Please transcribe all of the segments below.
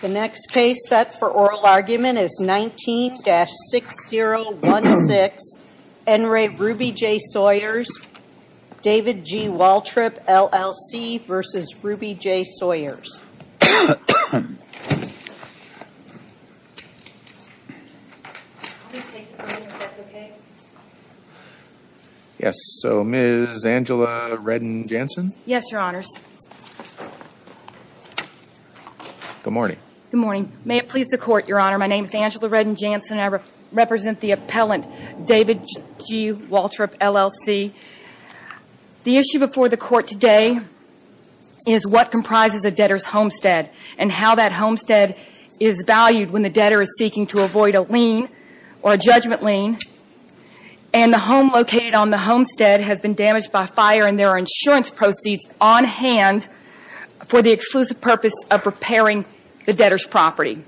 The next case set for oral argument is 19-6016, Enri Ruby J. Sawyers v. David G. Waltrip, LLC v. Ruby J. Sawyers. Yes, so Ms. Angela Redden-Jansen? Yes, Your Honors. Good morning. Good morning. May it please the Court, Your Honor, my name is Angela Redden-Jansen and I represent the appellant, David G. Waltrip, LLC. The issue before the Court today is what comprises a debtor's homestead and how that homestead is valued when the debtor is seeking to avoid a lien or a judgment lien. And the home located on the homestead has been damaged by fire and there are insurance proceeds on hand for the exclusive purpose of repairing the debtor's property.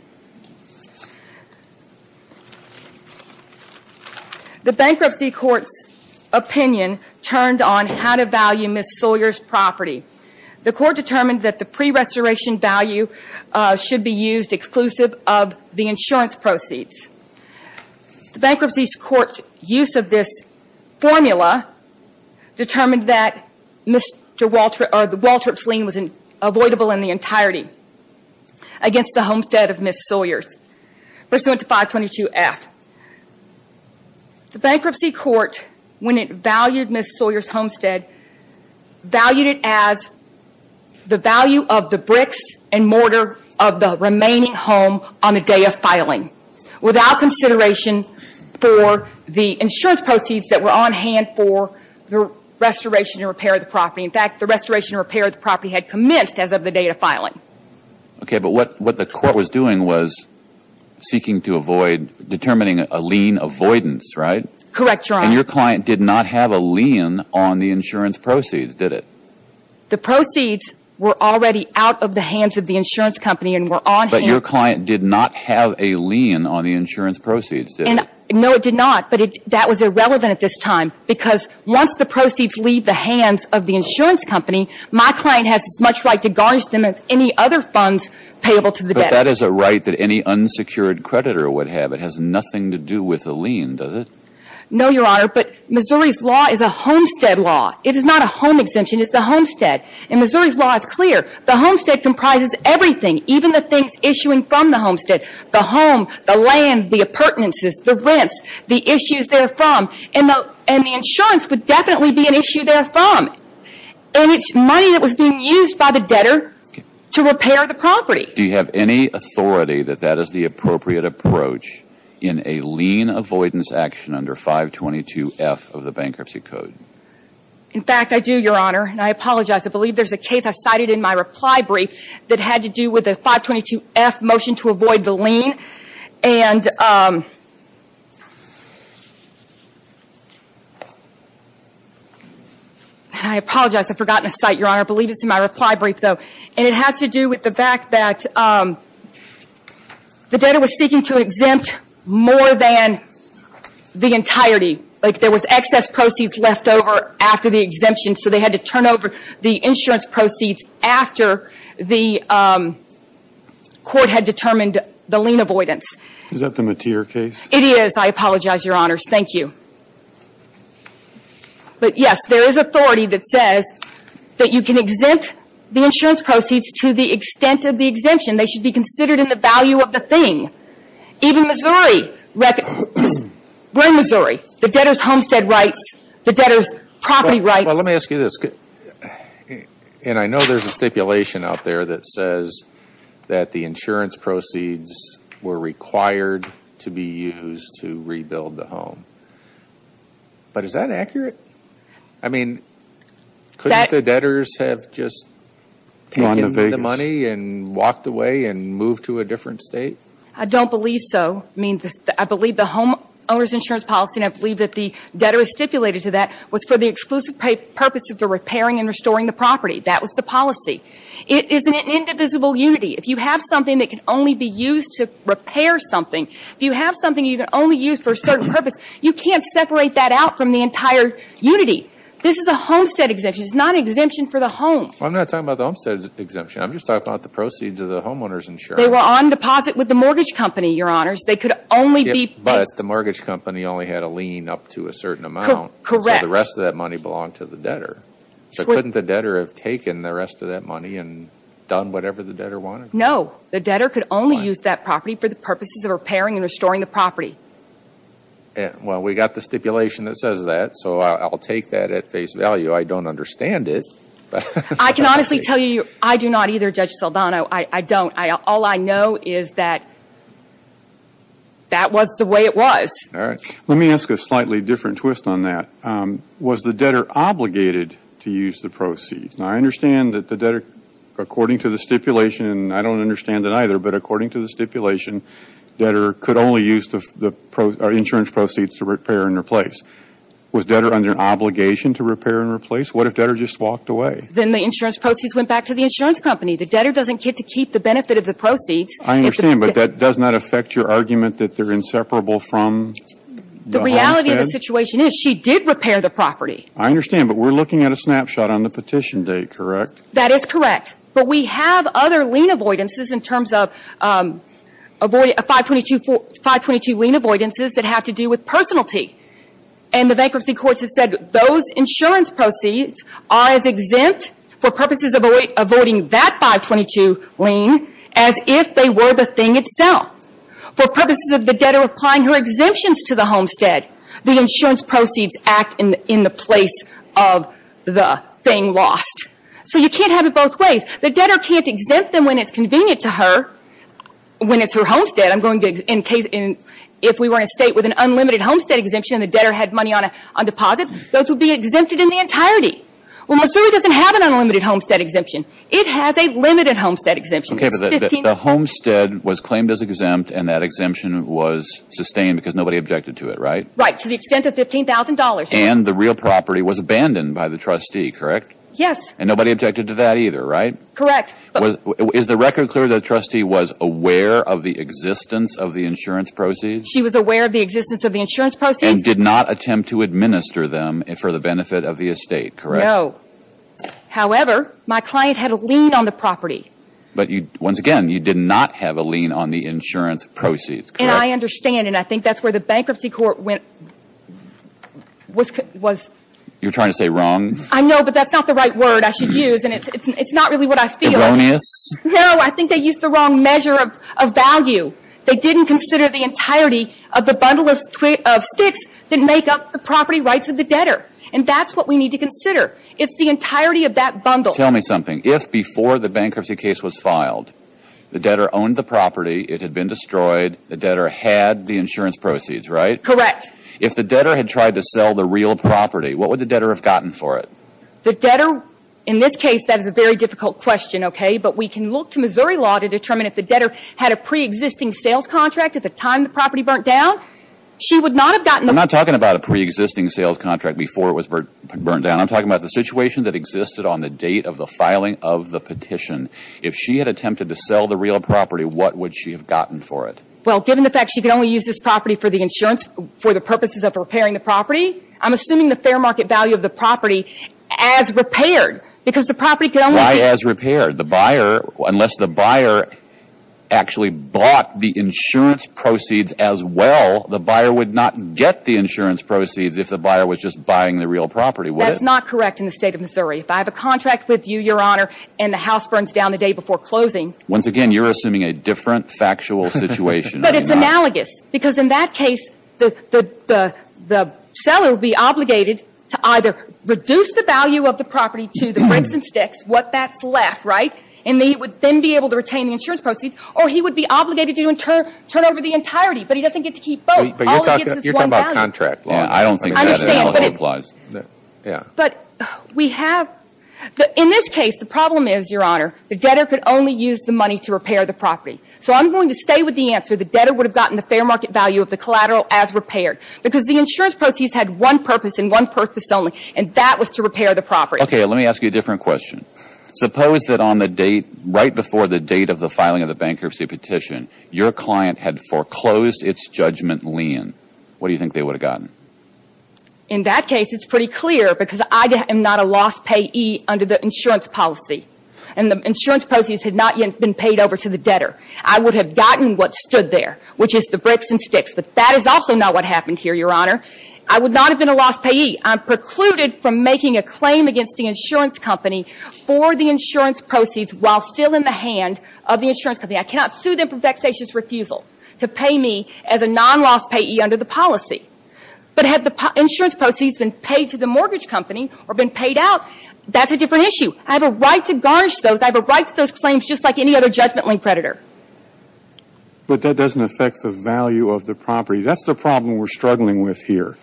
The Bankruptcy Court's opinion turned on how to value Ms. Sawyer's property. The Court determined that the pre-restoration value should be used exclusive of the insurance proceeds. The Bankruptcy Court's use of this formula determined that Mr. Waltrip's lien was avoidable in the entirety against the homestead of Ms. Sawyer's, pursuant to 522F. The Bankruptcy Court, when it valued Ms. Sawyer's homestead, valued it as the value of the bricks and mortar of the remaining home on the day of filing, without consideration for the insurance proceeds that were on hand for the restoration and repair of the property. In fact, the restoration and repair of the property had commenced as of the day of filing. Okay, but what the Court was doing was seeking to avoid, determining a lien avoidance, right? Correct, Your Honor. And your client did not have a lien on the insurance proceeds, did it? The proceeds were already out of the hands of the insurance company and were on hand. But your client did not have a lien on the insurance proceeds, did it? No, it did not. But that was irrelevant at this time, because once the proceeds leave the hands of the insurance company, my client has as much right to garnish them as any other funds payable to the debtor. But that is a right that any unsecured creditor would have. It has nothing to do with a lien, does it? No, Your Honor. But Missouri's law is a homestead law. It is not a home exemption. It's a homestead. And Missouri's law is clear. The homestead comprises everything, even the things issuing from the homestead. The home, the land, the appurtenances, the rents, the issues therefrom. And the insurance would definitely be an issue therefrom. And it's money that was being used by the debtor to repair the property. Do you have any authority that that is the appropriate approach in a lien avoidance action under 522F of the Bankruptcy Code? In fact, I do, Your Honor. And I apologize. I believe there's a case I cited in my reply brief that had to do with the 522F motion to avoid the lien. And I apologize. I've forgotten to cite, Your Honor. I believe it's in my reply brief, though. And it has to do with the fact that the debtor was seeking to exempt more than the entirety. Like there was excess proceeds left over after the exemption. So they had to turn over the insurance proceeds after the court had determined the lien avoidance. Is that the Mateer case? It is. I apologize, Your Honors. Thank you. But, yes, there is authority that says that you can exempt the insurance proceeds to the extent of the exemption. They should be considered in the value of the thing. Even Missouri. We're in Missouri. The debtor's homestead rights, the debtor's property rights. Well, let me ask you this. And I know there's a stipulation out there that says that the insurance proceeds were required to be used to rebuild the home. But is that accurate? I mean, couldn't the debtors have just taken the money and walked away and moved to a different state? I don't believe so. I mean, I believe the homeowners insurance policy, and I believe that the debtor is stipulated to that, was for the exclusive purpose of the repairing and restoring the property. That was the policy. It is an indivisible unity. If you have something that can only be used to repair something, if you have something you can only use for a certain purpose, you can't separate that out from the entire unity. This is a homestead exemption. It's not an exemption for the home. Well, I'm not talking about the homestead exemption. I'm just talking about the proceeds of the homeowners insurance. They were on deposit with the mortgage company, Your Honors. They could only be paid. But the mortgage company only had a lien up to a certain amount. Correct. So the rest of that money belonged to the debtor. So couldn't the debtor have taken the rest of that money and done whatever the debtor wanted? No. The debtor could only use that property for the purposes of repairing and restoring the property. Well, we got the stipulation that says that, so I'll take that at face value. I don't understand it. I can honestly tell you I do not either, Judge Saldana. I don't. All I know is that that was the way it was. All right. Let me ask a slightly different twist on that. Was the debtor obligated to use the proceeds? Now, I understand that the debtor, according to the stipulation, and I don't understand it either, but according to the stipulation, debtor could only use the insurance proceeds to repair and replace. Was debtor under obligation to repair and replace? What if debtor just walked away? Then the insurance proceeds went back to the insurance company. The debtor doesn't get to keep the benefit of the proceeds. I understand. But that does not affect your argument that they're inseparable from the homestead? The reality of the situation is she did repair the property. I understand. But we're looking at a snapshot on the petition date, correct? That is correct. But we have other lien avoidances in terms of 522 lien avoidances that have to do with personality. And the bankruptcy courts have said those insurance proceeds are as exempt for purposes of avoiding that 522 lien as if they were the thing itself. For purposes of the debtor applying her exemptions to the homestead, the insurance proceeds act in the place of the thing lost. So you can't have it both ways. The debtor can't exempt them when it's convenient to her when it's her homestead. If we were in a state with an unlimited homestead exemption and the debtor had money on deposit, those would be exempted in the entirety. Well, Missouri doesn't have an unlimited homestead exemption. It has a limited homestead exemption. The homestead was claimed as exempt and that exemption was sustained because nobody objected to it, right? Right, to the extent of $15,000. And the real property was abandoned by the trustee, correct? Yes. And nobody objected to that either, right? Correct. Is the record clear that the trustee was aware of the existence of the insurance proceeds? She was aware of the existence of the insurance proceeds. And did not attempt to administer them for the benefit of the estate, correct? No. However, my client had a lien on the property. But once again, you did not have a lien on the insurance proceeds, correct? And I understand, and I think that's where the bankruptcy court went, was... You're trying to say wrong? I know, but that's not the right word I should use, and it's not really what I feel. It's erroneous? No, I think they used the wrong measure of value. They didn't consider the entirety of the bundle of sticks that make up the property rights of the debtor. And that's what we need to consider. It's the entirety of that bundle. Tell me something. If before the bankruptcy case was filed, the debtor owned the property, it had been destroyed, the debtor had the insurance proceeds, right? Correct. If the debtor had tried to sell the real property, what would the debtor have gotten for it? The debtor, in this case, that is a very difficult question, okay? But we can look to Missouri law to determine if the debtor had a preexisting sales contract at the time the property burnt down. She would not have gotten the... I'm not talking about a preexisting sales contract before it was burnt down. I'm talking about the situation that existed on the date of the filing of the petition. If she had attempted to sell the real property, what would she have gotten for it? Well, given the fact she could only use this property for the purposes of repairing the property, I'm assuming the fair market value of the property as repaired because the property could only be... Why as repaired? The buyer, unless the buyer actually bought the insurance proceeds as well, the buyer would not get the insurance proceeds if the buyer was just buying the real property, would it? That's not correct in the State of Missouri. If I have a contract with you, Your Honor, and the house burns down the day before closing... Once again, you're assuming a different factual situation. But it's analogous. Because in that case, the seller would be obligated to either reduce the value of the property to the crimson sticks, what that's left, right? And he would then be able to retain the insurance proceeds. Or he would be obligated to turn over the entirety. But he doesn't get to keep both. All he gets is one down. You're talking about contract law. I don't think that's analogous. I understand. But we have... In this case, the problem is, Your Honor, the debtor could only use the money to repair the property. So I'm going to stay with the answer, the debtor would have gotten the fair market value of the collateral as repaired. Because the insurance proceeds had one purpose and one purpose only, and that was to repair the property. Okay. Let me ask you a different question. Suppose that on the date, right before the date of the filing of the bankruptcy petition, your client had foreclosed its judgment lien. What do you think they would have gotten? In that case, it's pretty clear, because I am not a lost payee under the insurance policy. And the insurance proceeds had not yet been paid over to the debtor. I would have gotten what stood there, which is the bricks and sticks. But that is also not what happened here, Your Honor. I would not have been a lost payee. I'm precluded from making a claim against the insurance company for the insurance proceeds while still in the hand of the insurance company. I cannot sue them for vexatious refusal to pay me as a non-lost payee under the policy. But had the insurance proceeds been paid to the mortgage company or been paid out, that's a different issue. I have a right to garnish those. I have a right to those claims just like any other judgment lien creditor. But that doesn't affect the value of the property. That's the problem we're struggling with here.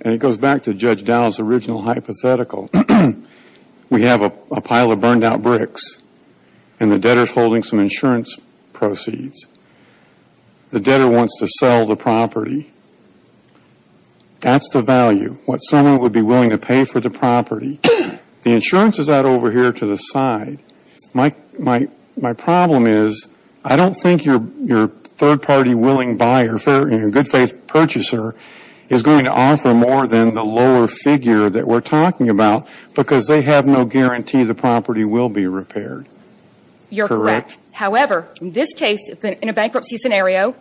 And it goes back to Judge Dowell's original hypothetical. We have a pile of burned-out bricks, and the debtor is holding some insurance proceeds. The debtor wants to sell the property. That's the value, what someone would be willing to pay for the property. The insurance is out over here to the side. My problem is I don't think your third-party willing buyer, your good-faith purchaser, is going to offer more than the lower figure that we're talking about because they have no guarantee the property will be repaired. You're correct. However, in this case, in a bankruptcy scenario,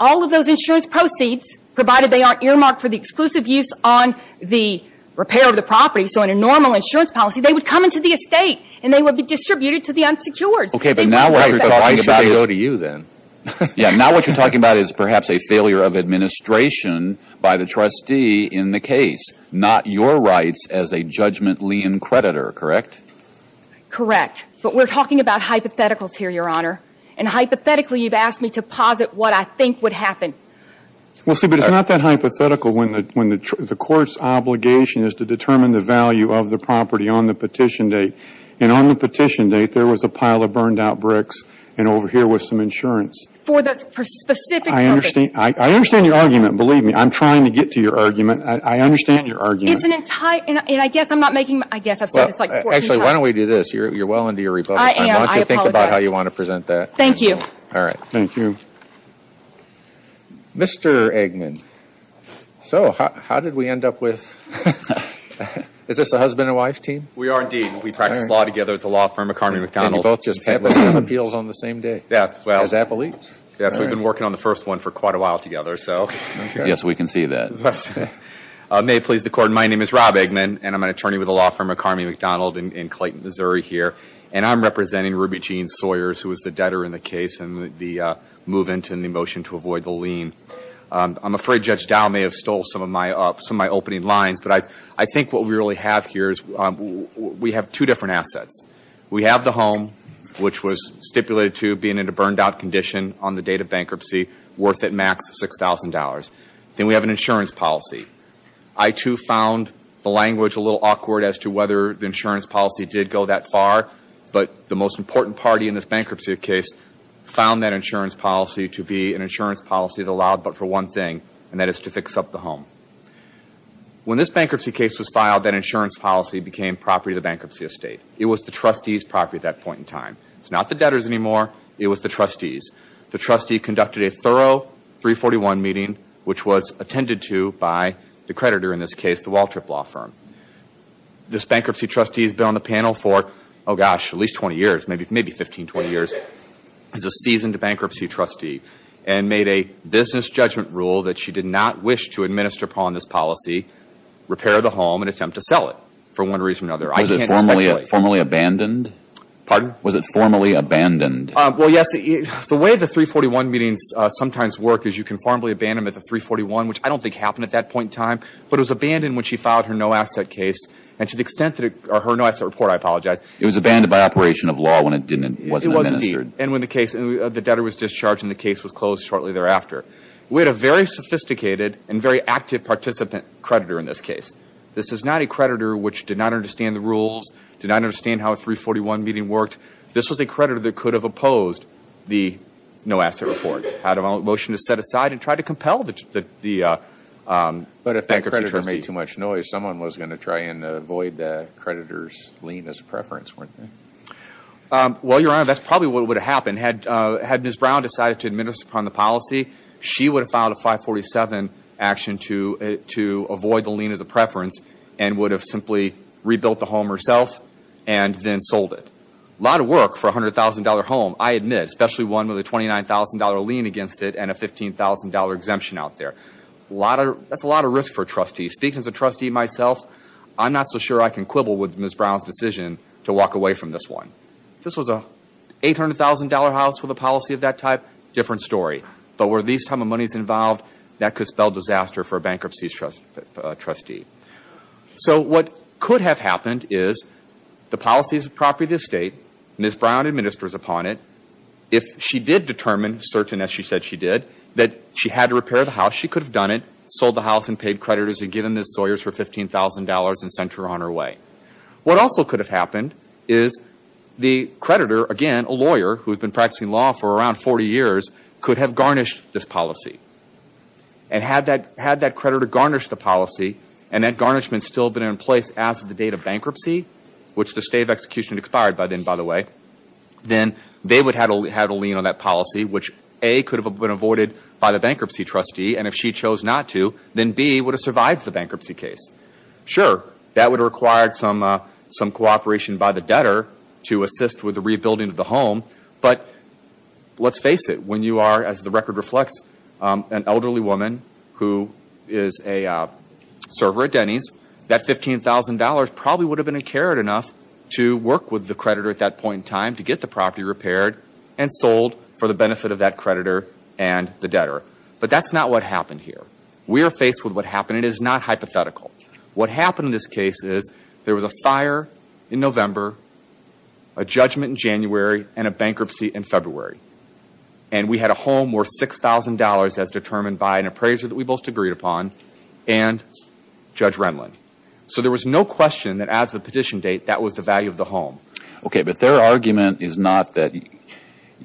all of those insurance proceeds, provided they aren't earmarked for the exclusive use on the repair of the property, so in a normal insurance policy, they would come into the estate and they would be distributed to the unsecured. Okay, but now what you're talking about is perhaps a failure of administration by the trustee in the case, not your rights as a judgment lien creditor, correct? Correct. But we're talking about hypotheticals here, Your Honor. And hypothetically, you've asked me to posit what I think would happen. Well, see, but it's not that hypothetical when the court's obligation is to determine the value of the property on the petition date. And on the petition date, there was a pile of burned-out bricks, and over here was some insurance. For the specific purpose. I understand your argument. Believe me, I'm trying to get to your argument. I understand your argument. It's an entire – and I guess I'm not making – I guess I've said this like 14 times. Actually, why don't we do this? You're well into your rebuttal time. I am. Why don't you think about how you want to present that? Thank you. All right. Thank you. Mr. Eggman. So, how did we end up with – is this a husband and wife team? We are, indeed. We practice law together at the law firm of Carmey McDonald. And you both just had appeals on the same day? Yeah. As appellates? Yes, we've been working on the first one for quite a while together, so. Yes, we can see that. May it please the Court, my name is Rob Eggman, and I'm an attorney with the law firm of Carmey McDonald in Clayton, Missouri, here. And I'm representing Ruby Jean Sawyers, who was the debtor in the case and the move-in to the motion to avoid the lien. I'm afraid Judge Dow may have stole some of my opening lines, but I think what we really have here is we have two different assets. We have the home, which was stipulated to being in a burned-out condition on the date of bankruptcy, worth at max $6,000. Then we have an insurance policy. I, too, found the language a little awkward as to whether the insurance policy did go that far, but the most important party in this bankruptcy case found that insurance policy to be an insurance policy that allowed but for one thing, and that is to fix up the home. When this bankruptcy case was filed, that insurance policy became property of the bankruptcy estate. It was the trustee's property at that point in time. It's not the debtor's anymore. It was the trustee's. The trustee conducted a thorough 341 meeting, which was attended to by the creditor in this case, the Waltrip Law Firm. This bankruptcy trustee has been on the panel for, oh, gosh, at least 20 years, maybe 15, 20 years. He's a seasoned bankruptcy trustee and made a business judgment rule that she did not wish to administer upon this policy, repair the home, and attempt to sell it for one reason or another. I can't speculate. Was it formally abandoned? Pardon? Was it formally abandoned? Well, yes. The way the 341 meetings sometimes work is you conformably abandon them at the 341, which I don't think happened at that point in time, but it was abandoned when she filed her no-asset case. And to the extent that it – or her no-asset report, I apologize. It was abandoned by operation of law when it didn't – it wasn't administered. It was indeed. And when the case – the debtor was discharged and the case was closed shortly thereafter. We had a very sophisticated and very active participant creditor in this case. This is not a creditor which did not understand the rules, did not understand how a 341 meeting worked. This was a creditor that could have opposed the no-asset report, had a motion to set aside and try to compel the bankruptcy trustee. But if that creditor made too much noise, someone was going to try and avoid the creditor's lien as a preference, weren't they? Well, Your Honor, that's probably what would have happened. Had Ms. Brown decided to administer upon the policy, she would have filed a 547 action to avoid the lien as a preference and would have simply rebuilt the home herself and then sold it. A lot of work for a $100,000 home, I admit, especially one with a $29,000 lien against it and a $15,000 exemption out there. A lot of – that's a lot of risk for a trustee. Speaking as a trustee myself, I'm not so sure I can quibble with Ms. Brown's decision to walk away from this one. If this was an $800,000 house with a policy of that type, different story. But were these type of monies involved, that could spell disaster for a bankruptcy trustee. So what could have happened is the policy is the property of the state, Ms. Brown administers upon it. If she did determine, certain as she said she did, that she had to repair the house, she could have done it, sold the house and paid creditors and given Ms. Sawyers her $15,000 and sent her on her way. What also could have happened is the creditor, again, a lawyer who has been practicing law for around 40 years, could have garnished this policy. And had that creditor garnished the policy and that garnishment still been in place as of the date of bankruptcy, which the state of execution expired by then, by the way, then they would have had a lien on that policy, which A, could have been avoided by the bankruptcy trustee, and if she chose not to, then B, would have survived the bankruptcy case. Sure, that would have required some cooperation by the debtor to assist with the rebuilding of the home. But let's face it. When you are, as the record reflects, an elderly woman who is a server at Denny's, that $15,000 probably would have been incurred enough to work with the creditor at that point in time to get the property repaired and sold for the benefit of that creditor and the debtor. But that's not what happened here. We are faced with what happened. It is not hypothetical. What happened in this case is there was a fire in November, a judgment in January, and a bankruptcy in February. And we had a home worth $6,000 as determined by an appraiser that we both agreed upon and Judge Renlund. So there was no question that as the petition date, that was the value of the home. Okay, but their argument is not that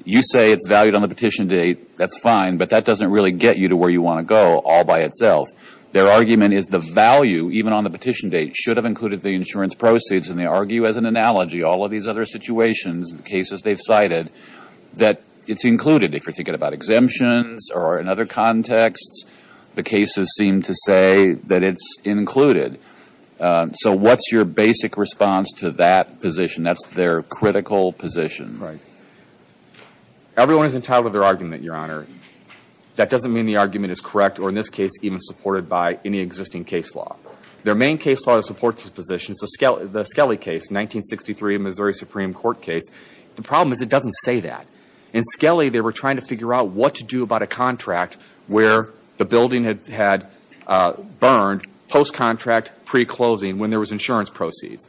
you say it's valued on the petition date, that's fine, but that doesn't really get you to where you want to go all by itself. Their argument is the value, even on the petition date, should have included the insurance proceeds. And they argue as an analogy, all of these other situations and cases they've cited, that it's included. If you're thinking about exemptions or in other contexts, the cases seem to say that it's included. So what's your basic response to that position? That's their critical position. Right. Everyone is entitled to their argument, Your Honor. That doesn't mean the argument is correct, or in this case, even supported by any existing case law. Their main case law to support this position is the Skelly case, 1963 Missouri Supreme Court case. The problem is it doesn't say that. In Skelly, they were trying to figure out what to do about a contract where the building had burned post-contract, pre-closing, when there was insurance proceeds.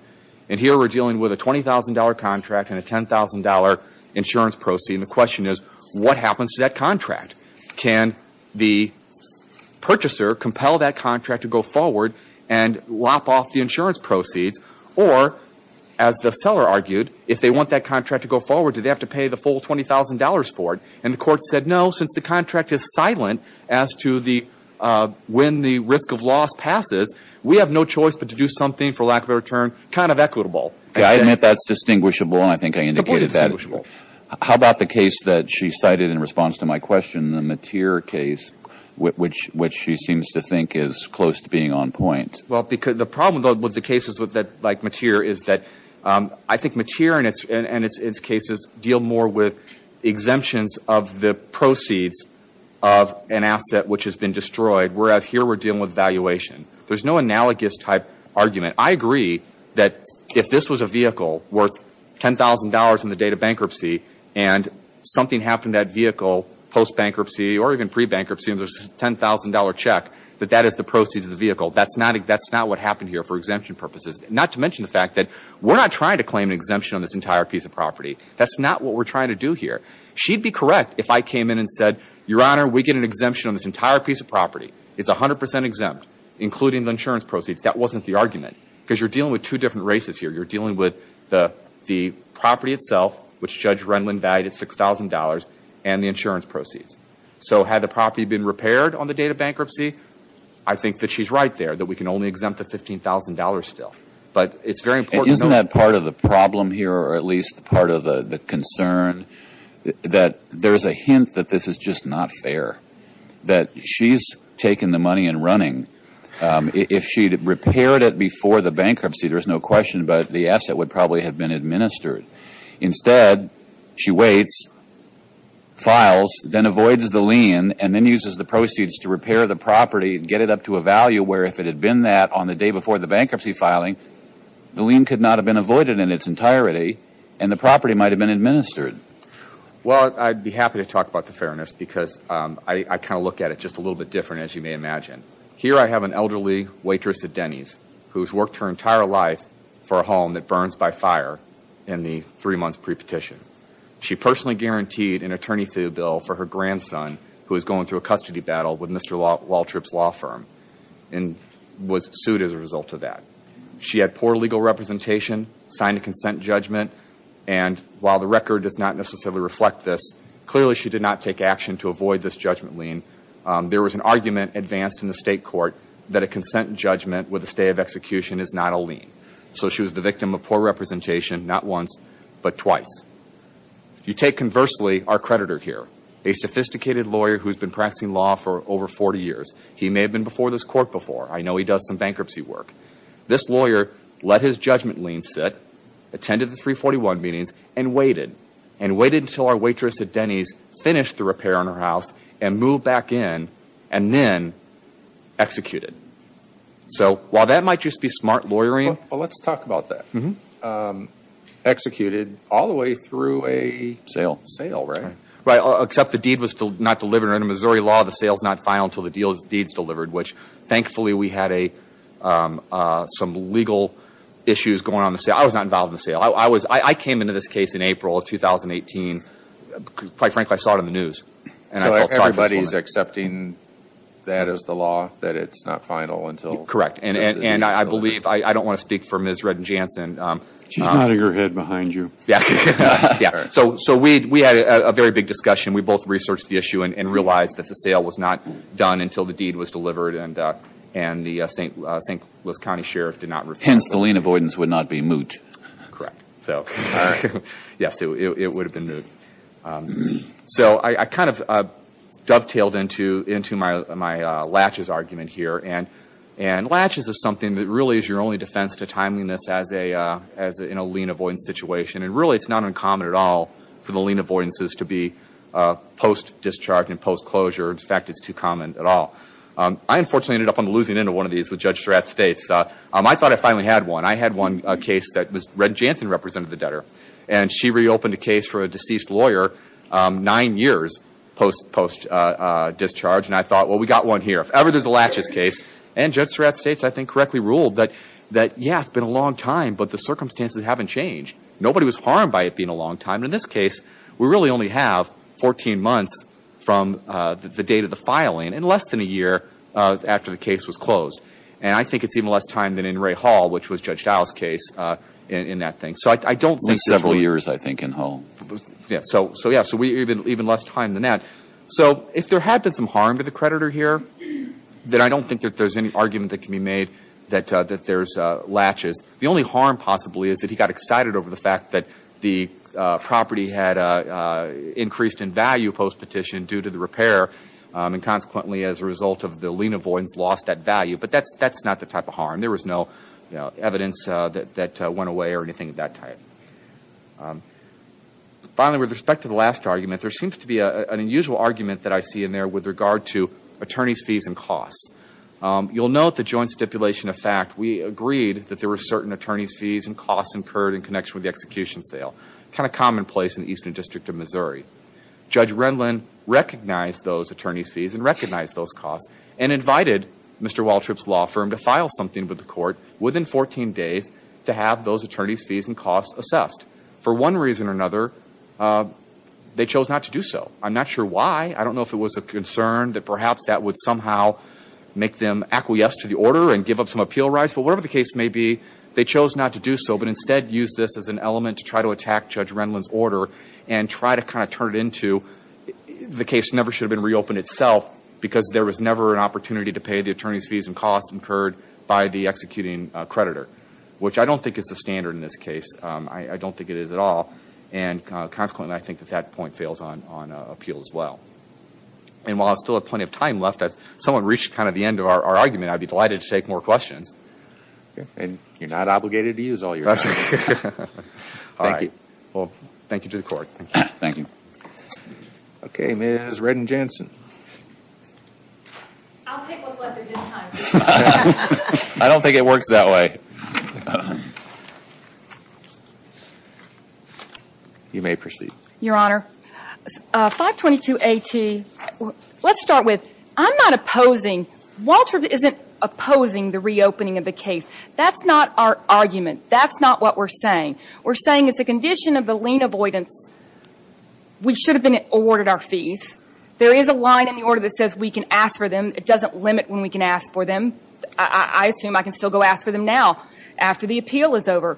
And here we're dealing with a $20,000 contract and a $10,000 insurance proceed. And the question is, what happens to that contract? Can the purchaser compel that contract to go forward and lop off the insurance proceeds? Or, as the seller argued, if they want that contract to go forward, do they have to pay the full $20,000 for it? And the court said, no, since the contract is silent as to when the risk of loss passes, we have no choice but to do something, for lack of a better term, kind of equitable. I admit that's distinguishable, and I think I indicated that. Completely distinguishable. How about the case that she cited in response to my question, the Mateer case, which she seems to think is close to being on point? Well, the problem with the cases like Mateer is that I think Mateer and its cases deal more with exemptions of the proceeds of an asset which has been destroyed, whereas here we're dealing with valuation. There's no analogous type argument. I agree that if this was a vehicle worth $10,000 on the day of bankruptcy, and something happened to that vehicle post-bankruptcy or even pre-bankruptcy and there's a $10,000 check, that that is the proceeds of the vehicle. That's not what happened here for exemption purposes. Not to mention the fact that we're not trying to claim an exemption on this entire piece of property. That's not what we're trying to do here. She'd be correct if I came in and said, Your Honor, we get an exemption on this entire piece of property. It's 100 percent exempt, including the insurance proceeds. That wasn't the argument. Because you're dealing with two different races here. You're dealing with the property itself, which Judge Renlund valued at $6,000, and the insurance proceeds. So had the property been repaired on the day of bankruptcy, I think that she's right there, that we can only exempt the $15,000 still. But it's very important to know that. Isn't that part of the problem here, or at least part of the concern, that there's a hint that this is just not fair, that she's taken the money and running? If she'd repaired it before the bankruptcy, there's no question, but the asset would probably have been administered. Instead, she waits, files, then avoids the lien, and then uses the proceeds to repair the property and get it up to a value where if it had been that on the day before the bankruptcy filing, the lien could not have been avoided in its entirety, and the property might have been administered. Well, I'd be happy to talk about the fairness because I kind of look at it just a little bit different, as you may imagine. Here I have an elderly waitress at Denny's who's worked her entire life for a home that burns by fire in the three months pre-petition. She personally guaranteed an attorney fee bill for her grandson, who was going through a custody battle with Mr. Waltrip's law firm and was sued as a result of that. She had poor legal representation, signed a consent judgment, and while the record does not necessarily reflect this, clearly she did not take action to avoid this judgment lien. There was an argument advanced in the state court that a consent judgment with a stay of execution is not a lien. So she was the victim of poor representation, not once, but twice. You take, conversely, our creditor here, a sophisticated lawyer who's been practicing law for over 40 years. He may have been before this court before. I know he does some bankruptcy work. This lawyer let his judgment lien sit, attended the 341 meetings, and waited, and waited until our waitress at Denny's finished the repair on her house and moved back in, and then executed. So while that might just be smart lawyering... Well, let's talk about that. Executed all the way through a sale, right? Right, except the deed was not delivered under Missouri law. The sale's not final until the deed's delivered, which thankfully we had some legal issues going on in the sale. I was not involved in the sale. I came into this case in April of 2018. Quite frankly, I saw it on the news, and I felt sorry for this woman. So everybody's accepting that as the law, that it's not final until... Correct, and I believe, I don't want to speak for Ms. Redden-Jansen. She's nodding her head behind you. Yeah, so we had a very big discussion. We both researched the issue and realized that the sale was not done until the deed was delivered, and the St. Louis County Sheriff did not refuse it. Hence, the lien avoidance would not be moot. Correct. Yes, it would have been moot. So I kind of dovetailed into my latches argument here, and latches is something that really is your only defense to timeliness in a lien avoidance situation, and really it's not uncommon at all for the lien avoidances to be post-discharge and post-closure. In fact, it's too common at all. I unfortunately ended up on the losing end of one of these with Judge Surratt States. I thought I finally had one. I had one case that Ms. Redden-Jansen represented the debtor, and she reopened a case for a deceased lawyer nine years post-discharge, and I thought, well, we got one here. If ever there's a latches case, and Judge Surratt States I think correctly ruled that, yeah, it's been a long time, but the circumstances haven't changed. Nobody was harmed by it being a long time. In this case, we really only have 14 months from the date of the filing and less than a year after the case was closed, and I think it's even less time than in Ray Hall, which was Judge Dowell's case in that thing. Several years, I think, in Hall. So, yeah, even less time than that. So if there had been some harm to the creditor here, then I don't think that there's any argument that can be made that there's latches. The only harm possibly is that he got excited over the fact that the property had increased in value post-petition due to the repair, and consequently, as a result of the lien avoidance, lost that value. But that's not the type of harm. There was no evidence that went away or anything of that type. Finally, with respect to the last argument, there seems to be an unusual argument that I see in there with regard to attorney's fees and costs. You'll note the joint stipulation of fact. We agreed that there were certain attorney's fees and costs incurred in connection with the execution sale. Kind of commonplace in the Eastern District of Missouri. Judge Renlund recognized those attorney's fees and recognized those costs and invited Mr. Waltrip's law firm to file something with the court within 14 days to have those attorney's fees and costs assessed. For one reason or another, they chose not to do so. I'm not sure why. I don't know if it was a concern that perhaps that would somehow make them acquiesce to the order and give up some appeal rights. But whatever the case may be, they chose not to do so, but instead used this as an element to try to attack Judge Renlund's order and try to kind of turn it into the case never should have been reopened itself because there was never an opportunity to pay the attorney's fees and costs incurred by the executing creditor, which I don't think is the standard in this case. I don't think it is at all. And consequently, I think that that point fails on appeal as well. And while I still have plenty of time left, if someone reached kind of the end of our argument, I'd be delighted to take more questions. And you're not obligated to use all your time. All right. Thank you. Well, thank you to the court. Thank you. Okay, Ms. Redden-Jansen. I'll take what's left of his time. I don't think it works that way. You may proceed. Your Honor, 522 A.T. Let's start with I'm not opposing. Walter isn't opposing the reopening of the case. That's not our argument. That's not what we're saying. We're saying it's a condition of the lien avoidance. We should have been awarded our fees. There is a line in the order that says we can ask for them. It doesn't limit when we can ask for them. I assume I can still go ask for them now after the appeal is over.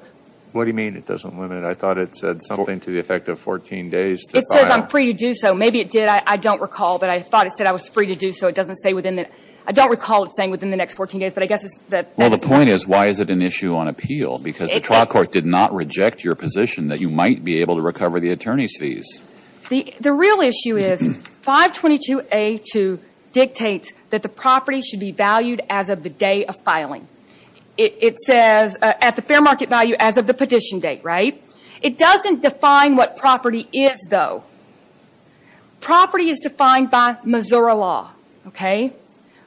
What do you mean it doesn't limit? I thought it said something to the effect of 14 days to file. It says I'm free to do so. Maybe it did. I don't recall. But I thought it said I was free to do so. I don't recall it saying within the next 14 days. Well, the point is why is it an issue on appeal? Because the trial court did not reject your position that you might be able to recover the attorney's fees. The real issue is 522 A.T. dictates that the property should be valued as of the day of filing. It says at the fair market value as of the petition date, right? It doesn't define what property is, though. Property is defined by Missouri law, okay?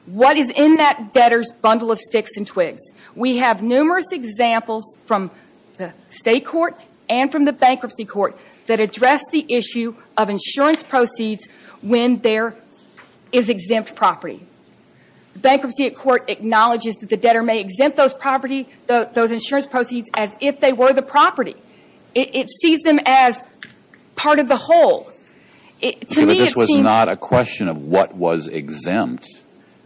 What is in that debtor's bundle of sticks and twigs? We have numerous examples from the state court and from the bankruptcy court that address the issue of insurance proceeds when there is exempt property. Bankruptcy court acknowledges that the debtor may exempt those property, those insurance proceeds as if they were the property. It sees them as part of the whole. To me, it seems. But this was not a question of what was exempt.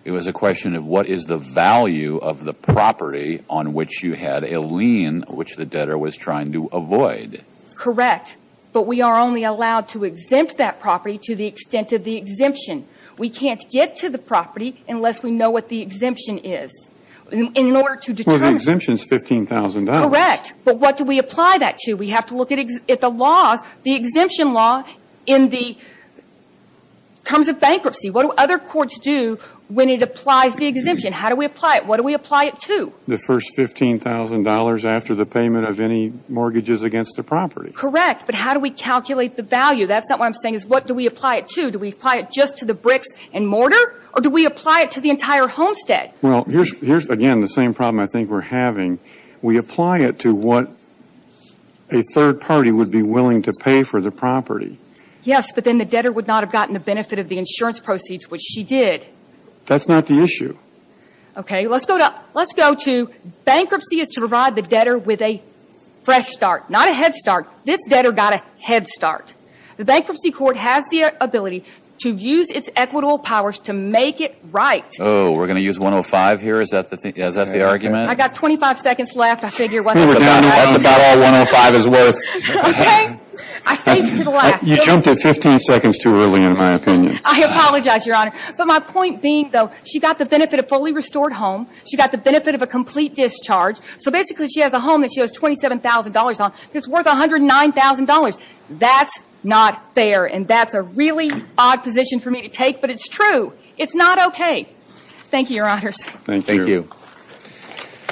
It was a question of what is the value of the property on which you had a lien which the debtor was trying to avoid. Correct. But we are only allowed to exempt that property to the extent of the exemption. We can't get to the property unless we know what the exemption is. In order to determine. Well, the exemption is $15,000. Correct. But what do we apply that to? We have to look at the law, the exemption law in the terms of bankruptcy. What do other courts do when it applies the exemption? How do we apply it? What do we apply it to? The first $15,000 after the payment of any mortgages against the property. Correct. But how do we calculate the value? That's not what I'm saying is what do we apply it to? Do we apply it just to the bricks and mortar? Or do we apply it to the entire homestead? Well, here's again the same problem I think we're having. We apply it to what a third party would be willing to pay for the property. Yes, but then the debtor would not have gotten the benefit of the insurance proceeds which she did. That's not the issue. Okay. Let's go to bankruptcy is to provide the debtor with a fresh start, not a head start. This debtor got a head start. The bankruptcy court has the ability to use its equitable powers to make it right. Oh, we're going to use 105 here? Is that the argument? I got 25 seconds left. I figure that's about all 105 is worth. Okay. I saved it for the last. You jumped at 15 seconds too early in my opinion. I apologize, Your Honor. But my point being, though, she got the benefit of a fully restored home. She got the benefit of a complete discharge. So basically she has a home that she has $27,000 on that's worth $109,000. That's not fair, and that's a really odd position for me to take, but it's true. It's not okay. Thank you, Your Honors. Thank you. Thank you.